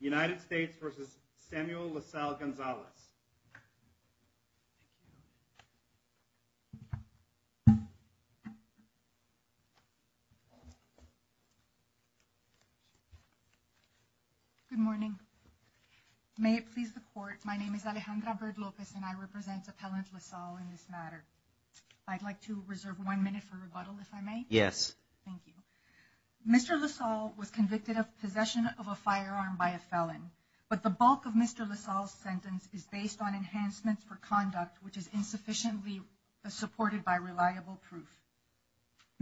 United States v. Samuel Lasalle-Gonzalez. Good morning. May it please the court. My name is Alejandra Bird Lopez and I represent Appellant Lasalle in this matter. I'd like to reserve one minute for rebuttal, if I may. Yes. Thank you. Mr. Lasalle was convicted of possession of a firearm by a felon, but the bulk of Mr. Lasalle's sentence is based on enhancements for conduct which is insufficiently supported by reliable proof.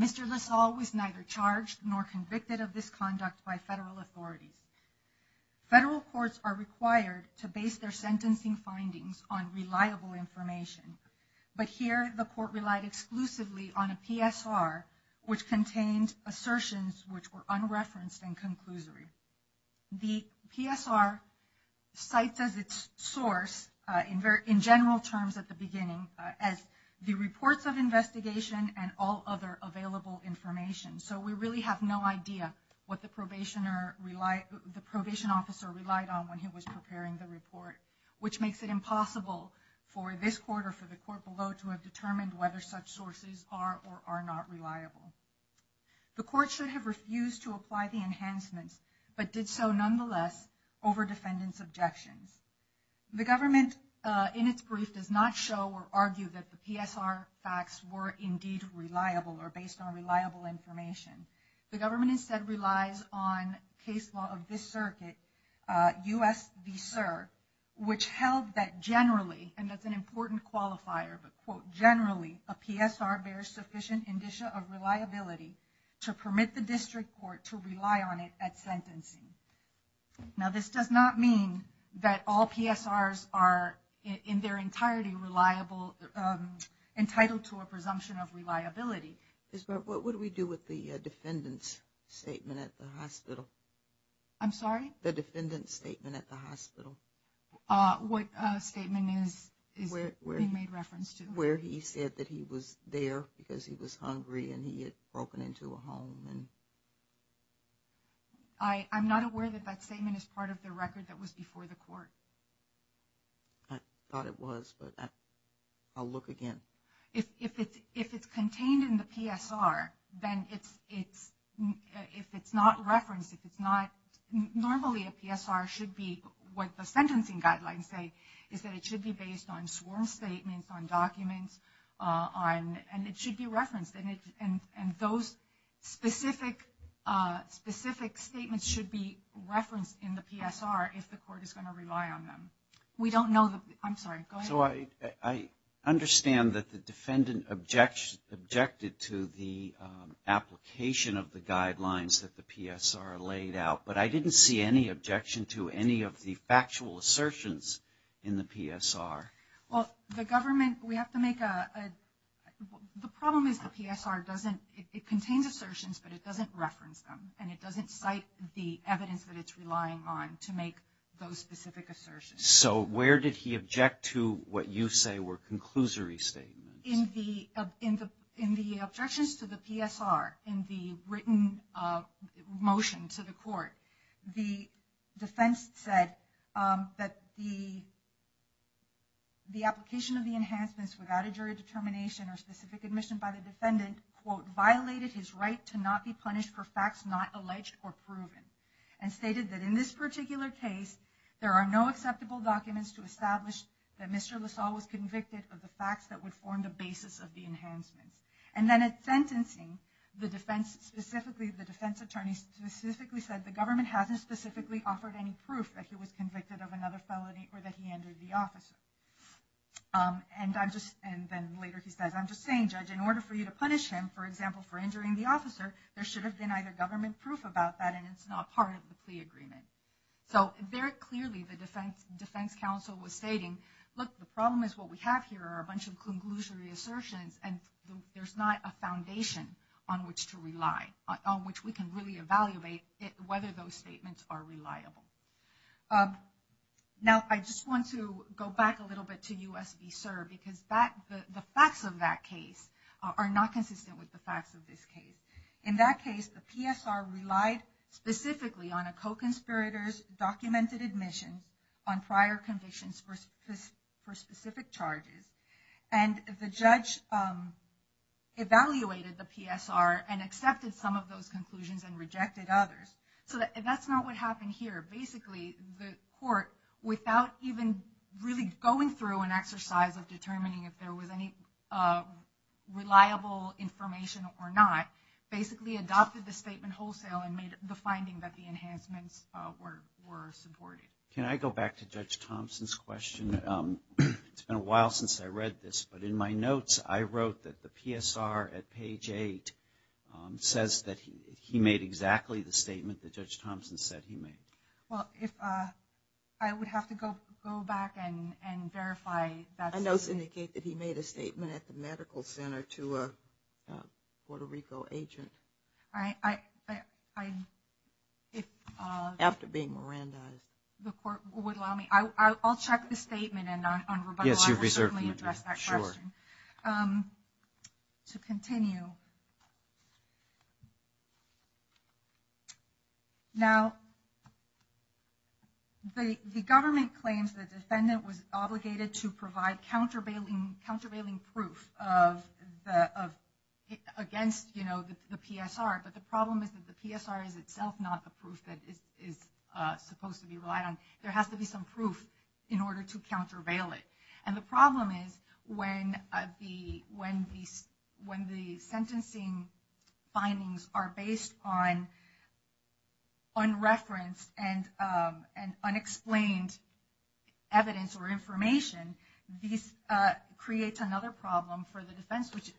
Mr. Lasalle was neither charged nor convicted of this conduct by federal authorities. Federal courts are required to base their sentencing findings on reliable information, but here the court relied exclusively on a PSR which contained assertions which were unreferenced and conclusory. The PSR cites as its source, in general terms at the beginning, as the reports of investigation and all other available information. So we really have no idea what the probation officer relied on when he was preparing the report, which makes it impossible for this court or for the court below to have determined whether such sources are or are not reliable. The court should have refused to apply the enhancements, but did so nonetheless over defendant's objections. The government in its brief does not show or argue that the PSR facts were indeed reliable or based on reliable information. The government instead relies on case law of this circuit, U.S. v. CER, which held that generally, and that's an important qualifier, but quote, generally a PSR bears sufficient indicia of reliability to permit the district court to rely on it at sentencing. Now this does not mean that all PSRs are in their entirety entitled to a presumption of reliability. Ms. Barrett, what would we do with the defendant's statement at the hospital? I'm sorry? The defendant's statement at the hospital. What statement is being made reference to? Where he said that he was there because he was hungry and he had broken into a home. I'm not aware that that statement is part of the record that was before the court. I thought it was, but I'll look again. If it's contained in the PSR, then if it's not referenced, if it's not, normally a PSR should be, what the sentencing guidelines say, is that it should be based on sworn statements, on documents, and it should be referenced. And those specific statements should be referenced in the PSR if the court is going to rely on them. We don't know the, I'm sorry, go ahead. So I understand that the defendant objected to the application of the guidelines that the PSR laid out, but I didn't see any objection to any of the factual assertions in the PSR. Well, the government, we have to make a, the problem is the PSR doesn't, it contains assertions, but it doesn't reference them. And it doesn't cite the evidence that it's relying on to make those specific assertions. So where did he object to what you say were conclusory statements? In the objections to the PSR, in the written motion to the court, the defense said that the application of the enhancements without a jury determination or specific admission by the defendant, quote, violated his right to not be punished for facts not alleged or proven. And stated that in this particular case, there are no acceptable documents to establish that Mr. LaSalle was convicted of the facts that would form the basis of the enhancements. And then at sentencing, the defense specifically, the defense attorney specifically said the government hasn't specifically offered any proof that he was convicted of another felony or that he injured the officer. And I'm just, and then later he says, I'm just saying, judge, in order for you to punish him, for example, for injuring the officer, there should have been either government proof about that and it's not part of the plea agreement. So very clearly the defense counsel was stating, look, the problem is what we have here are a bunch of conclusory assertions and there's not a foundation on which to rely, on which we can really evaluate whether those statements are reliable. Now, I just want to go back a little bit to U.S. v. CERB because the facts of that case are not consistent with the facts of this case. In that case, the PSR relied specifically on a co-conspirator's documented admissions on prior convictions for specific charges. And the judge evaluated the PSR and accepted some of those conclusions and rejected others. So that's not what happened here. Basically, the court, without even really going through an exercise of determining if there was any reliable information or not, basically adopted the statement wholesale and made the finding that the enhancements were supported. Can I go back to Judge Thompson's question? It's been a while since I read this, but in my notes I wrote that the PSR at page 8 says that he made exactly the statement that Judge Thompson said he made. Well, I would have to go back and verify that. My notes indicate that he made a statement at the medical center to a Puerto Rico agent. If the court would allow me, I'll check the statement and on rebuttal I will certainly address that question. To continue, now, the government claims the defendant was obligated to provide countervailing proof against the PSR, but the problem is that the PSR is itself not the proof that is supposed to be relied on. There has to be some proof in order to countervail it. The problem is when the sentencing findings are based on unreferenced and unexplained evidence or information, this creates another problem for the defense, which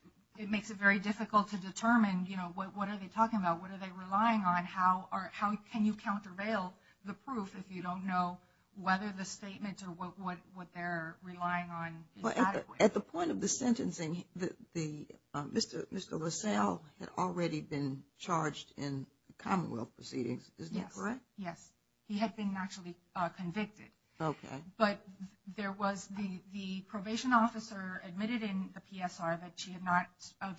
makes it very difficult to determine what are they talking about, what are they relying on, and how can you countervail the proof if you don't know whether the statements or what they're relying on is adequate. At the point of the sentencing, Mr. LaSalle had already been charged in commonwealth proceedings, is that correct? Yes. He had been actually convicted. Okay. But the probation officer admitted in the PSR that she had not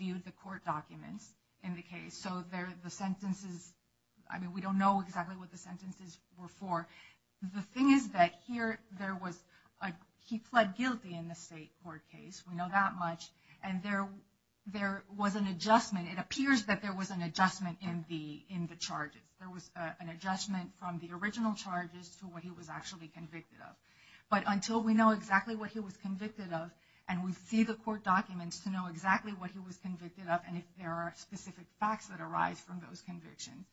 viewed the court documents in the case, so the sentences, I mean, we don't know exactly what the sentences were for. The thing is that here there was, he pled guilty in the state court case, we know that much, and there was an adjustment, it appears that there was an adjustment in the charges. There was an adjustment from the original charges to what he was actually convicted of. But until we know exactly what he was convicted of and we see the court documents to know exactly what he was convicted of and if there are specific facts that arise from those convictions,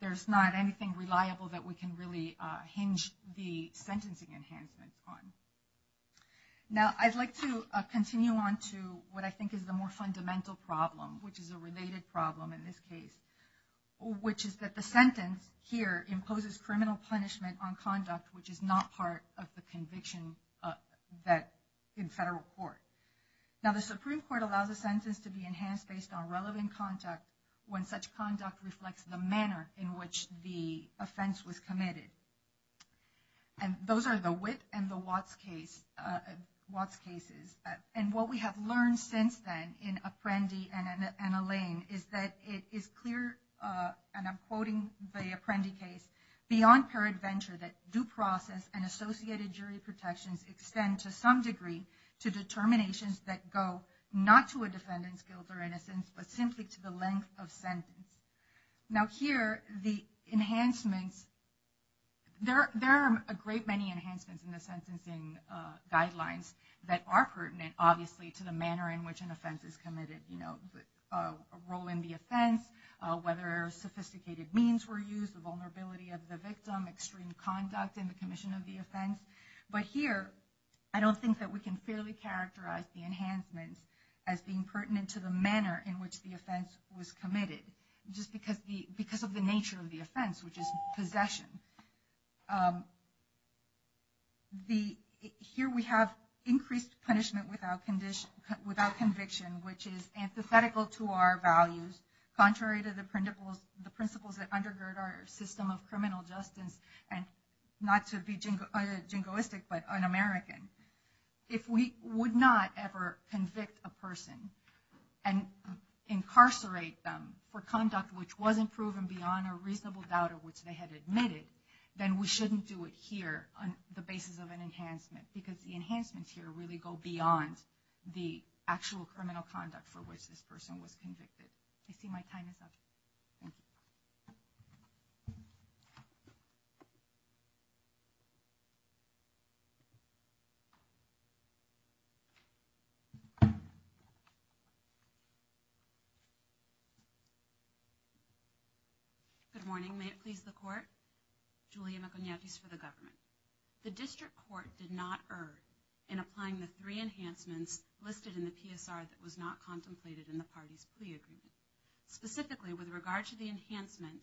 there's not anything reliable that we can really hinge the sentencing enhancements on. Now, I'd like to continue on to what I think is the more fundamental problem, which is a related problem in this case, which is that the sentence here imposes criminal punishment on conduct which is not part of the conviction in federal court. Now, the Supreme Court allows a sentence to be enhanced based on relevant conduct when such conduct reflects the manner in which the offense was committed. And those are the Witt and the Watts cases. And what we have learned since then in Apprendi and Alain is that it is clear, and I'm quoting the Apprendi case, beyond paradventure that due process and associated jury protections extend to some degree to determinations that go not to a defendant's guilt or innocence, but simply to the length of sentence. Now, here, the enhancements, there are a great many enhancements in the sentencing guidelines that are pertinent, obviously, to the manner in which an offense is committed. A role in the offense, whether sophisticated means were used, the vulnerability of the victim, extreme conduct in the commission of the offense. But here, I don't think that we can fairly characterize the enhancements as being pertinent to the manner in which the offense was committed, just because of the nature of the offense, which is possession. Here, we have increased punishment without conviction, which is antithetical to our values, contrary to the principles that undergird our system of criminal justice, and not to be jingoistic, but un-American. If we would not ever convict a person and incarcerate them for conduct which wasn't proven beyond a reasonable doubt of which they had admitted, then we shouldn't do it here on the basis of an enhancement, because the enhancements here really go beyond the actual criminal conduct for which this person was convicted. I see my time is up. Thank you. Good morning. May it please the Court, Julia Maconiatis for the government. The district court did not err in applying the three enhancements listed in the PSR that was not contemplated in the party's plea agreement. Specifically, with regard to the enhancement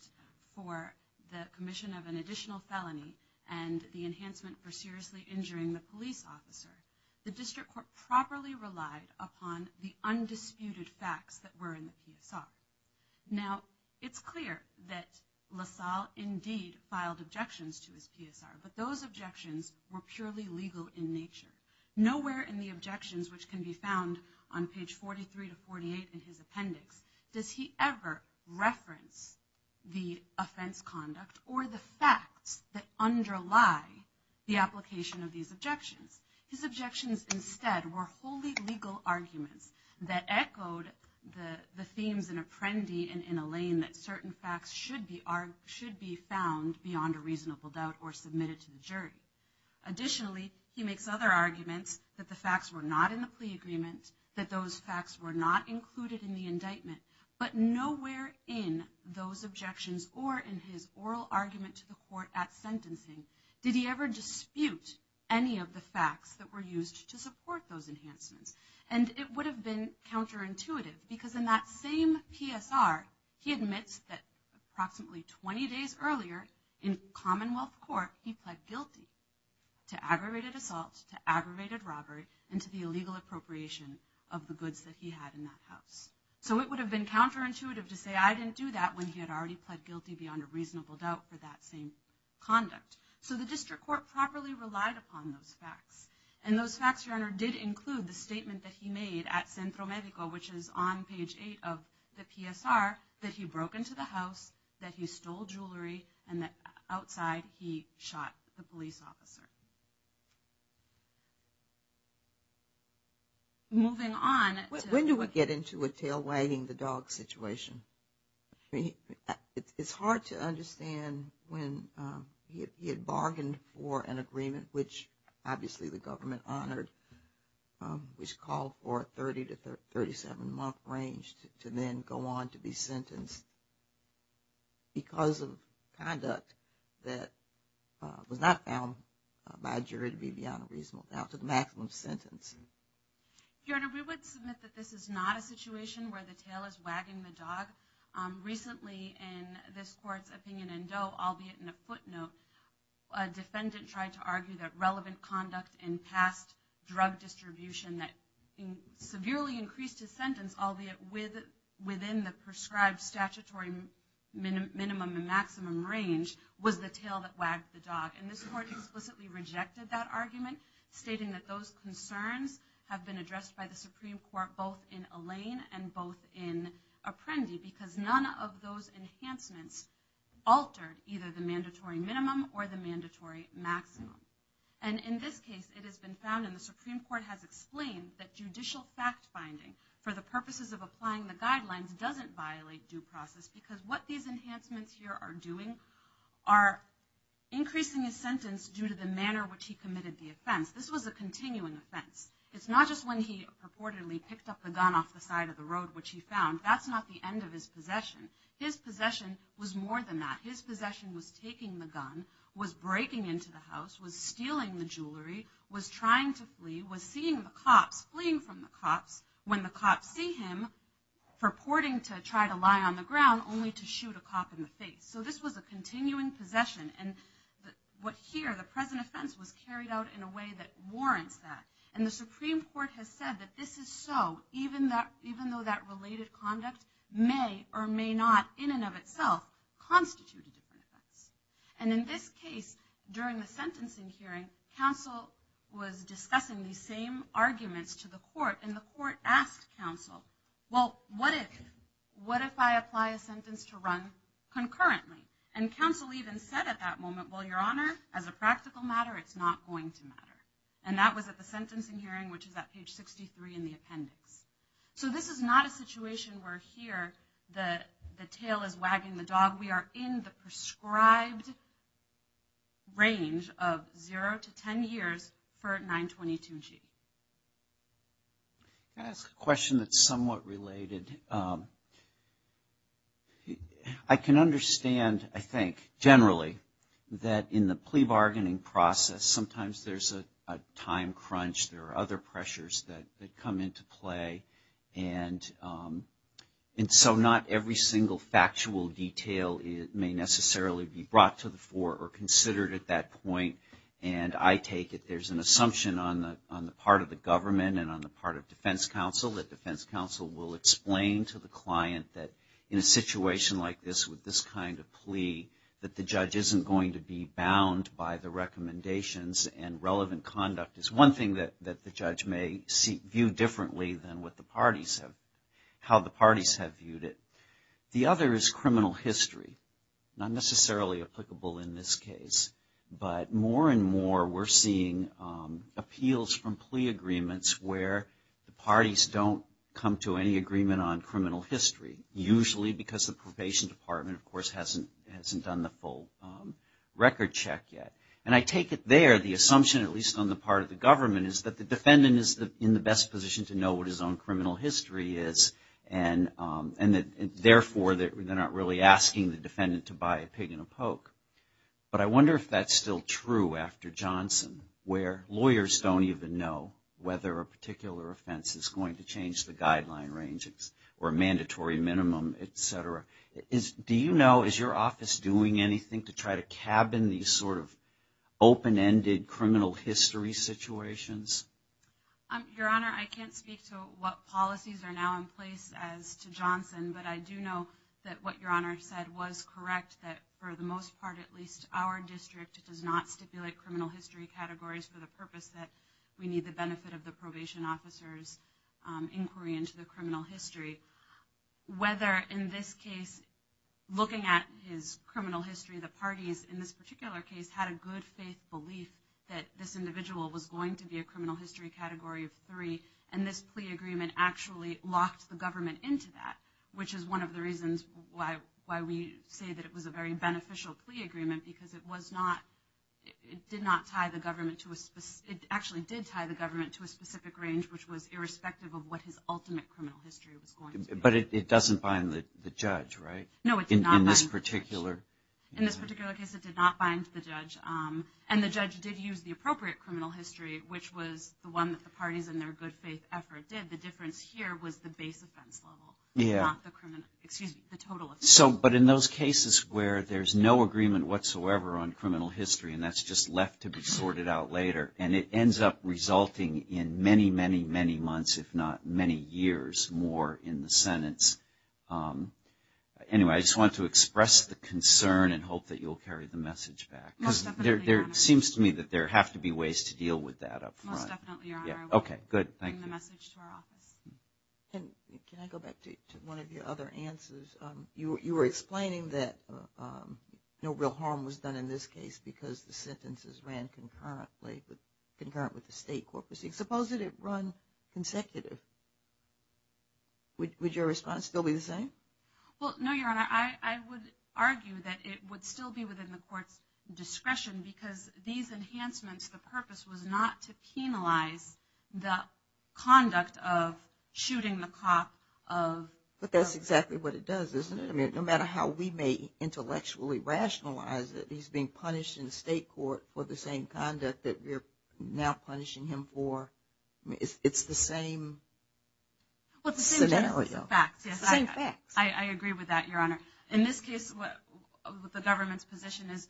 for the commission of an additional felony and the enhancement for seriously injuring the police officer, the district court properly relied upon the undisputed facts that were in the PSR. Now, it's clear that LaSalle indeed filed objections to his PSR, but those objections were purely legal in nature. Nowhere in the objections, which can be found on page 43 to 48 in his appendix, does he ever reference the offense conduct or the facts that underlie the application of these objections. His objections instead were wholly legal arguments that echoed the themes in Apprendi and in Alain that certain facts should be found beyond a reasonable doubt or submitted to the jury. Additionally, he makes other arguments that the facts were not in the plea agreement, that those facts were not included in the indictment. But nowhere in those objections or in his oral argument to the court at sentencing did he ever dispute any of the facts that were used to support those enhancements. And it would have been counterintuitive because in that same PSR, he admits that approximately 20 days earlier in Commonwealth Court, he pled guilty to aggravated assault, to aggravated robbery, and to the illegal appropriation of the goods that he had in that house. So it would have been counterintuitive to say, I didn't do that when he had already pled guilty beyond a reasonable doubt for that same conduct. So the district court properly relied upon those facts. And those facts, Your Honor, did include the statement that he made at Centro Medico, which is on page 8 of the PSR, that he broke into the house, that he stole jewelry, and that outside he shot the police officer. Moving on. When do we get into a tail wagging the dog situation? It's hard to understand when he had bargained for an agreement, which obviously the government honored, which called for a 30 to 37-month range to then go on to be sentenced because of conduct that was not found by a jury to be beyond a reasonable doubt to the maximum sentence. Your Honor, we would submit that this is not a situation where the tail is wagging the dog. Recently in this court's opinion in Doe, albeit in a footnote, a defendant tried to argue that relevant conduct in past drug distribution that severely increased his sentence, albeit within the prescribed statutory minimum and maximum range, was the tail that wagged the dog. And this court explicitly rejected that argument, stating that those concerns have been addressed by the Supreme Court both in Allain and both in Apprendi, because none of those enhancements altered either the mandatory minimum or the mandatory maximum. And in this case it has been found, and the Supreme Court has explained, that judicial fact-finding for the purposes of applying the guidelines doesn't violate due process, because what these enhancements here are doing are increasing his sentence due to the manner in which he committed the offense. This was a continuing offense. It's not just when he purportedly picked up the gun off the side of the road, which he found. That's not the end of his possession. His possession was more than that. His possession was taking the gun, was breaking into the house, was stealing the jewelry, was trying to flee, was seeing the cops, fleeing from the cops, when the cops see him purporting to try to lie on the ground only to shoot a cop in the face. So this was a continuing possession. And what here, the present offense, was carried out in a way that warrants that. And the Supreme Court has said that this is so, even though that related conduct may or may not, in and of itself, constitute a different offense. And in this case, during the sentencing hearing, counsel was discussing these same arguments to the court, and the court asked counsel, well, what if I apply a sentence to run concurrently? And counsel even said at that moment, well, Your Honor, as a practical matter, it's not going to matter. And that was at the sentencing hearing, which is at page 63 in the appendix. So this is not a situation where here the tail is wagging the dog. We are in the prescribed range of zero to ten years for 922G. Can I ask a question that's somewhat related? I can understand, I think, generally, that in the plea bargaining process, sometimes there's a time crunch. There are other pressures that come into play. And so not every single factual detail may necessarily be brought to the fore or considered at that point. And I take it there's an assumption on the part of the government and on the part of defense counsel that defense counsel will explain to the client that in a situation like this with this kind of plea, that the judge isn't going to be bound by the recommendations and relevant conduct is one thing that the judge may view differently than what the parties have, how the parties have viewed it. The other is criminal history, not necessarily applicable in this case. But more and more we're seeing appeals from plea agreements where the parties don't come to any agreement on criminal history, usually because the probation department, of course, hasn't done the full record check yet. And I take it there the assumption, at least on the part of the government, is that the defendant is in the best position to know what his own criminal history is and therefore they're not really asking the defendant to buy a pig and a poke. But I wonder if that's still true after Johnson, where lawyers don't even know whether a particular offense is going to change the guideline ranges or a mandatory minimum, et cetera. Do you know, is your office doing anything to try to cabin these sort of open-ended criminal history situations? Your Honor, I can't speak to what policies are now in place as to Johnson, but I do know that what Your Honor said was correct, that for the most part, at least, our district does not stipulate criminal history categories for the purpose that we need the benefit of the probation officer's inquiry into the criminal history. Whether in this case, looking at his criminal history, the parties in this particular case had a good faith belief that this individual was going to be a criminal history category of three, and this plea agreement actually locked the government into that, which is one of the reasons why we say that it was a very beneficial plea agreement, because it did tie the government to a specific range, which was irrespective of what his ultimate criminal history was going to be. But it doesn't bind the judge, right? No, it did not bind the judge. In this particular case, it did not bind the judge. And the judge did use the appropriate criminal history, which was the one that the parties in their good faith effort did. The difference here was the base offense level, not the total offense level. But in those cases where there's no agreement whatsoever on criminal history, and that's just left to be sorted out later, and it ends up resulting in many, many, many months, if not many years more in the sentence. Anyway, I just wanted to express the concern and hope that you'll carry the message back. Most definitely, Your Honor. Because it seems to me that there have to be ways to deal with that up front. Most definitely, Your Honor. Okay, good. Thank you. I'll bring the message to our office. Can I go back to one of your other answers? You were explaining that no real harm was done in this case because the sentences ran concurrently, concurrent with the state court proceedings. Suppose that it run consecutive. Would your response still be the same? Well, no, Your Honor. I would argue that it would still be within the court's discretion because these enhancements, the purpose was not to penalize the conduct of shooting the cop. But that's exactly what it does, isn't it? No matter how we may intellectually rationalize it, he's being punished in the state court for the same conduct that we're now punishing him for. It's the same scenario. Well, it's the same facts, yes. Same facts. I agree with that, Your Honor. In this case, the government's position is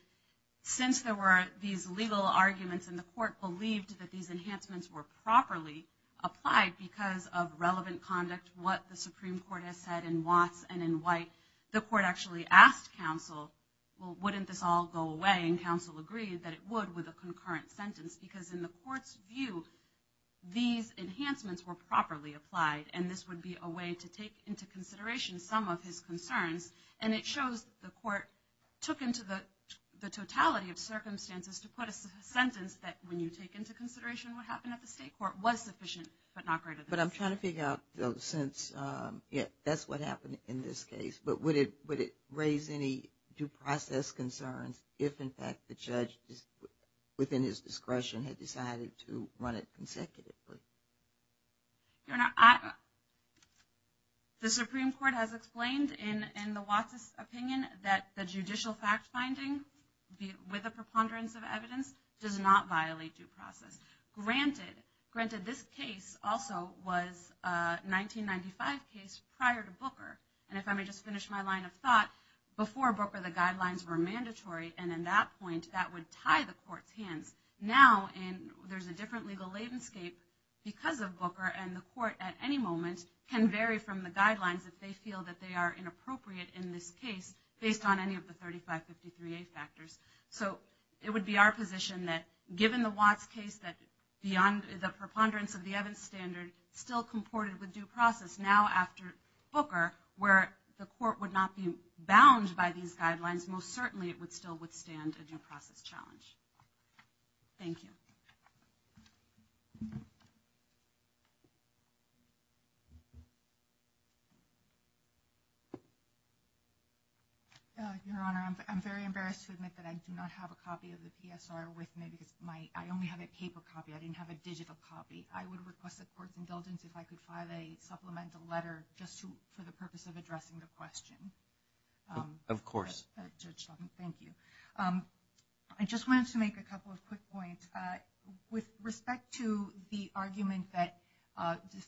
since there were these legal arguments and the court believed that these enhancements were properly applied because of relevant conduct, what the Supreme Court has said in Watts and in White, the court actually asked counsel, well, wouldn't this all go away? And counsel agreed that it would with a concurrent sentence because in the court's view, these enhancements were properly applied. And this would be a way to take into consideration some of his concerns. And it shows the court took into the totality of circumstances to put a sentence that, when you take into consideration what happened at the state court, was sufficient but not great enough. But I'm trying to figure out, since that's what happened in this case, but would it raise any due process concerns if, in fact, the judge within his discretion had decided to run it consecutively? Your Honor, the Supreme Court has explained in the Watts' opinion that the judicial fact finding, with a preponderance of evidence, does not violate due process. Granted, this case also was a 1995 case prior to Booker. And if I may just finish my line of thought, before Booker, the guidelines were mandatory. And at that point, that would tie the court's hands. Now, there's a different legal landscape because of Booker, and the court at any moment can vary from the guidelines if they feel that they are inappropriate in this case, based on any of the 3553A factors. So it would be our position that, given the Watts case, that beyond the preponderance of the evidence standard still comported with due process, now after Booker, where the court would not be bound by these guidelines, most certainly it would still withstand a due process challenge. Thank you. Your Honor, I'm very embarrassed to admit that I do not have a copy of the PSR with me because I only have a paper copy. I didn't have a digital copy. I would request the court's indulgence if I could file a supplemental letter just for the purpose of addressing the question. Of course. Thank you. I just wanted to make a couple of quick points. With respect to the argument that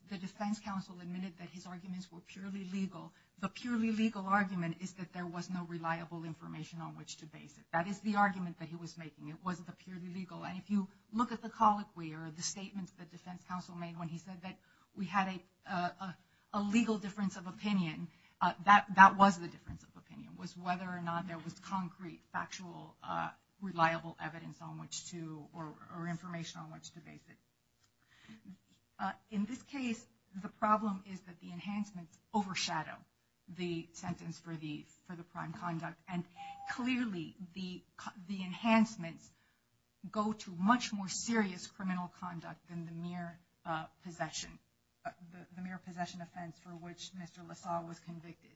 the defense counsel admitted that his arguments were purely legal, the purely legal argument is that there was no reliable information on which to base it. That is the argument that he was making. It wasn't the purely legal. And if you look at the colloquy or the statements the defense counsel made when he said that we had a legal difference of opinion, that was the difference of opinion was whether or not there was concrete, factual, reliable evidence on which to or information on which to base it. In this case, the problem is that the enhancements overshadow the sentence for the prime conduct, and clearly the enhancements go to much more serious criminal conduct than the mere possession, the mere possession offense for which Mr. LaSalle was convicted.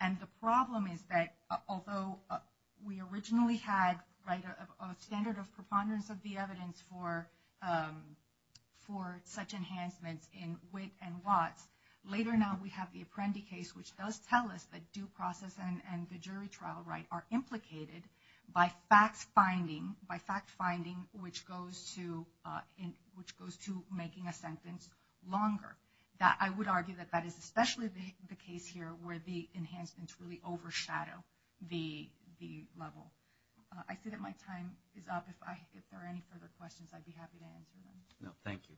And the problem is that although we originally had a standard of preponderance of the evidence for such enhancements in Witt and Watts, later now we have the Apprendi case, which does tell us that due process and the jury trial right are implicated by fact finding, which goes to making a sentence longer. I would argue that that is especially the case here where the enhancements really overshadow the level. I see that my time is up. If there are any further questions, I'd be happy to answer them. No, thank you. Okay, thank you very much.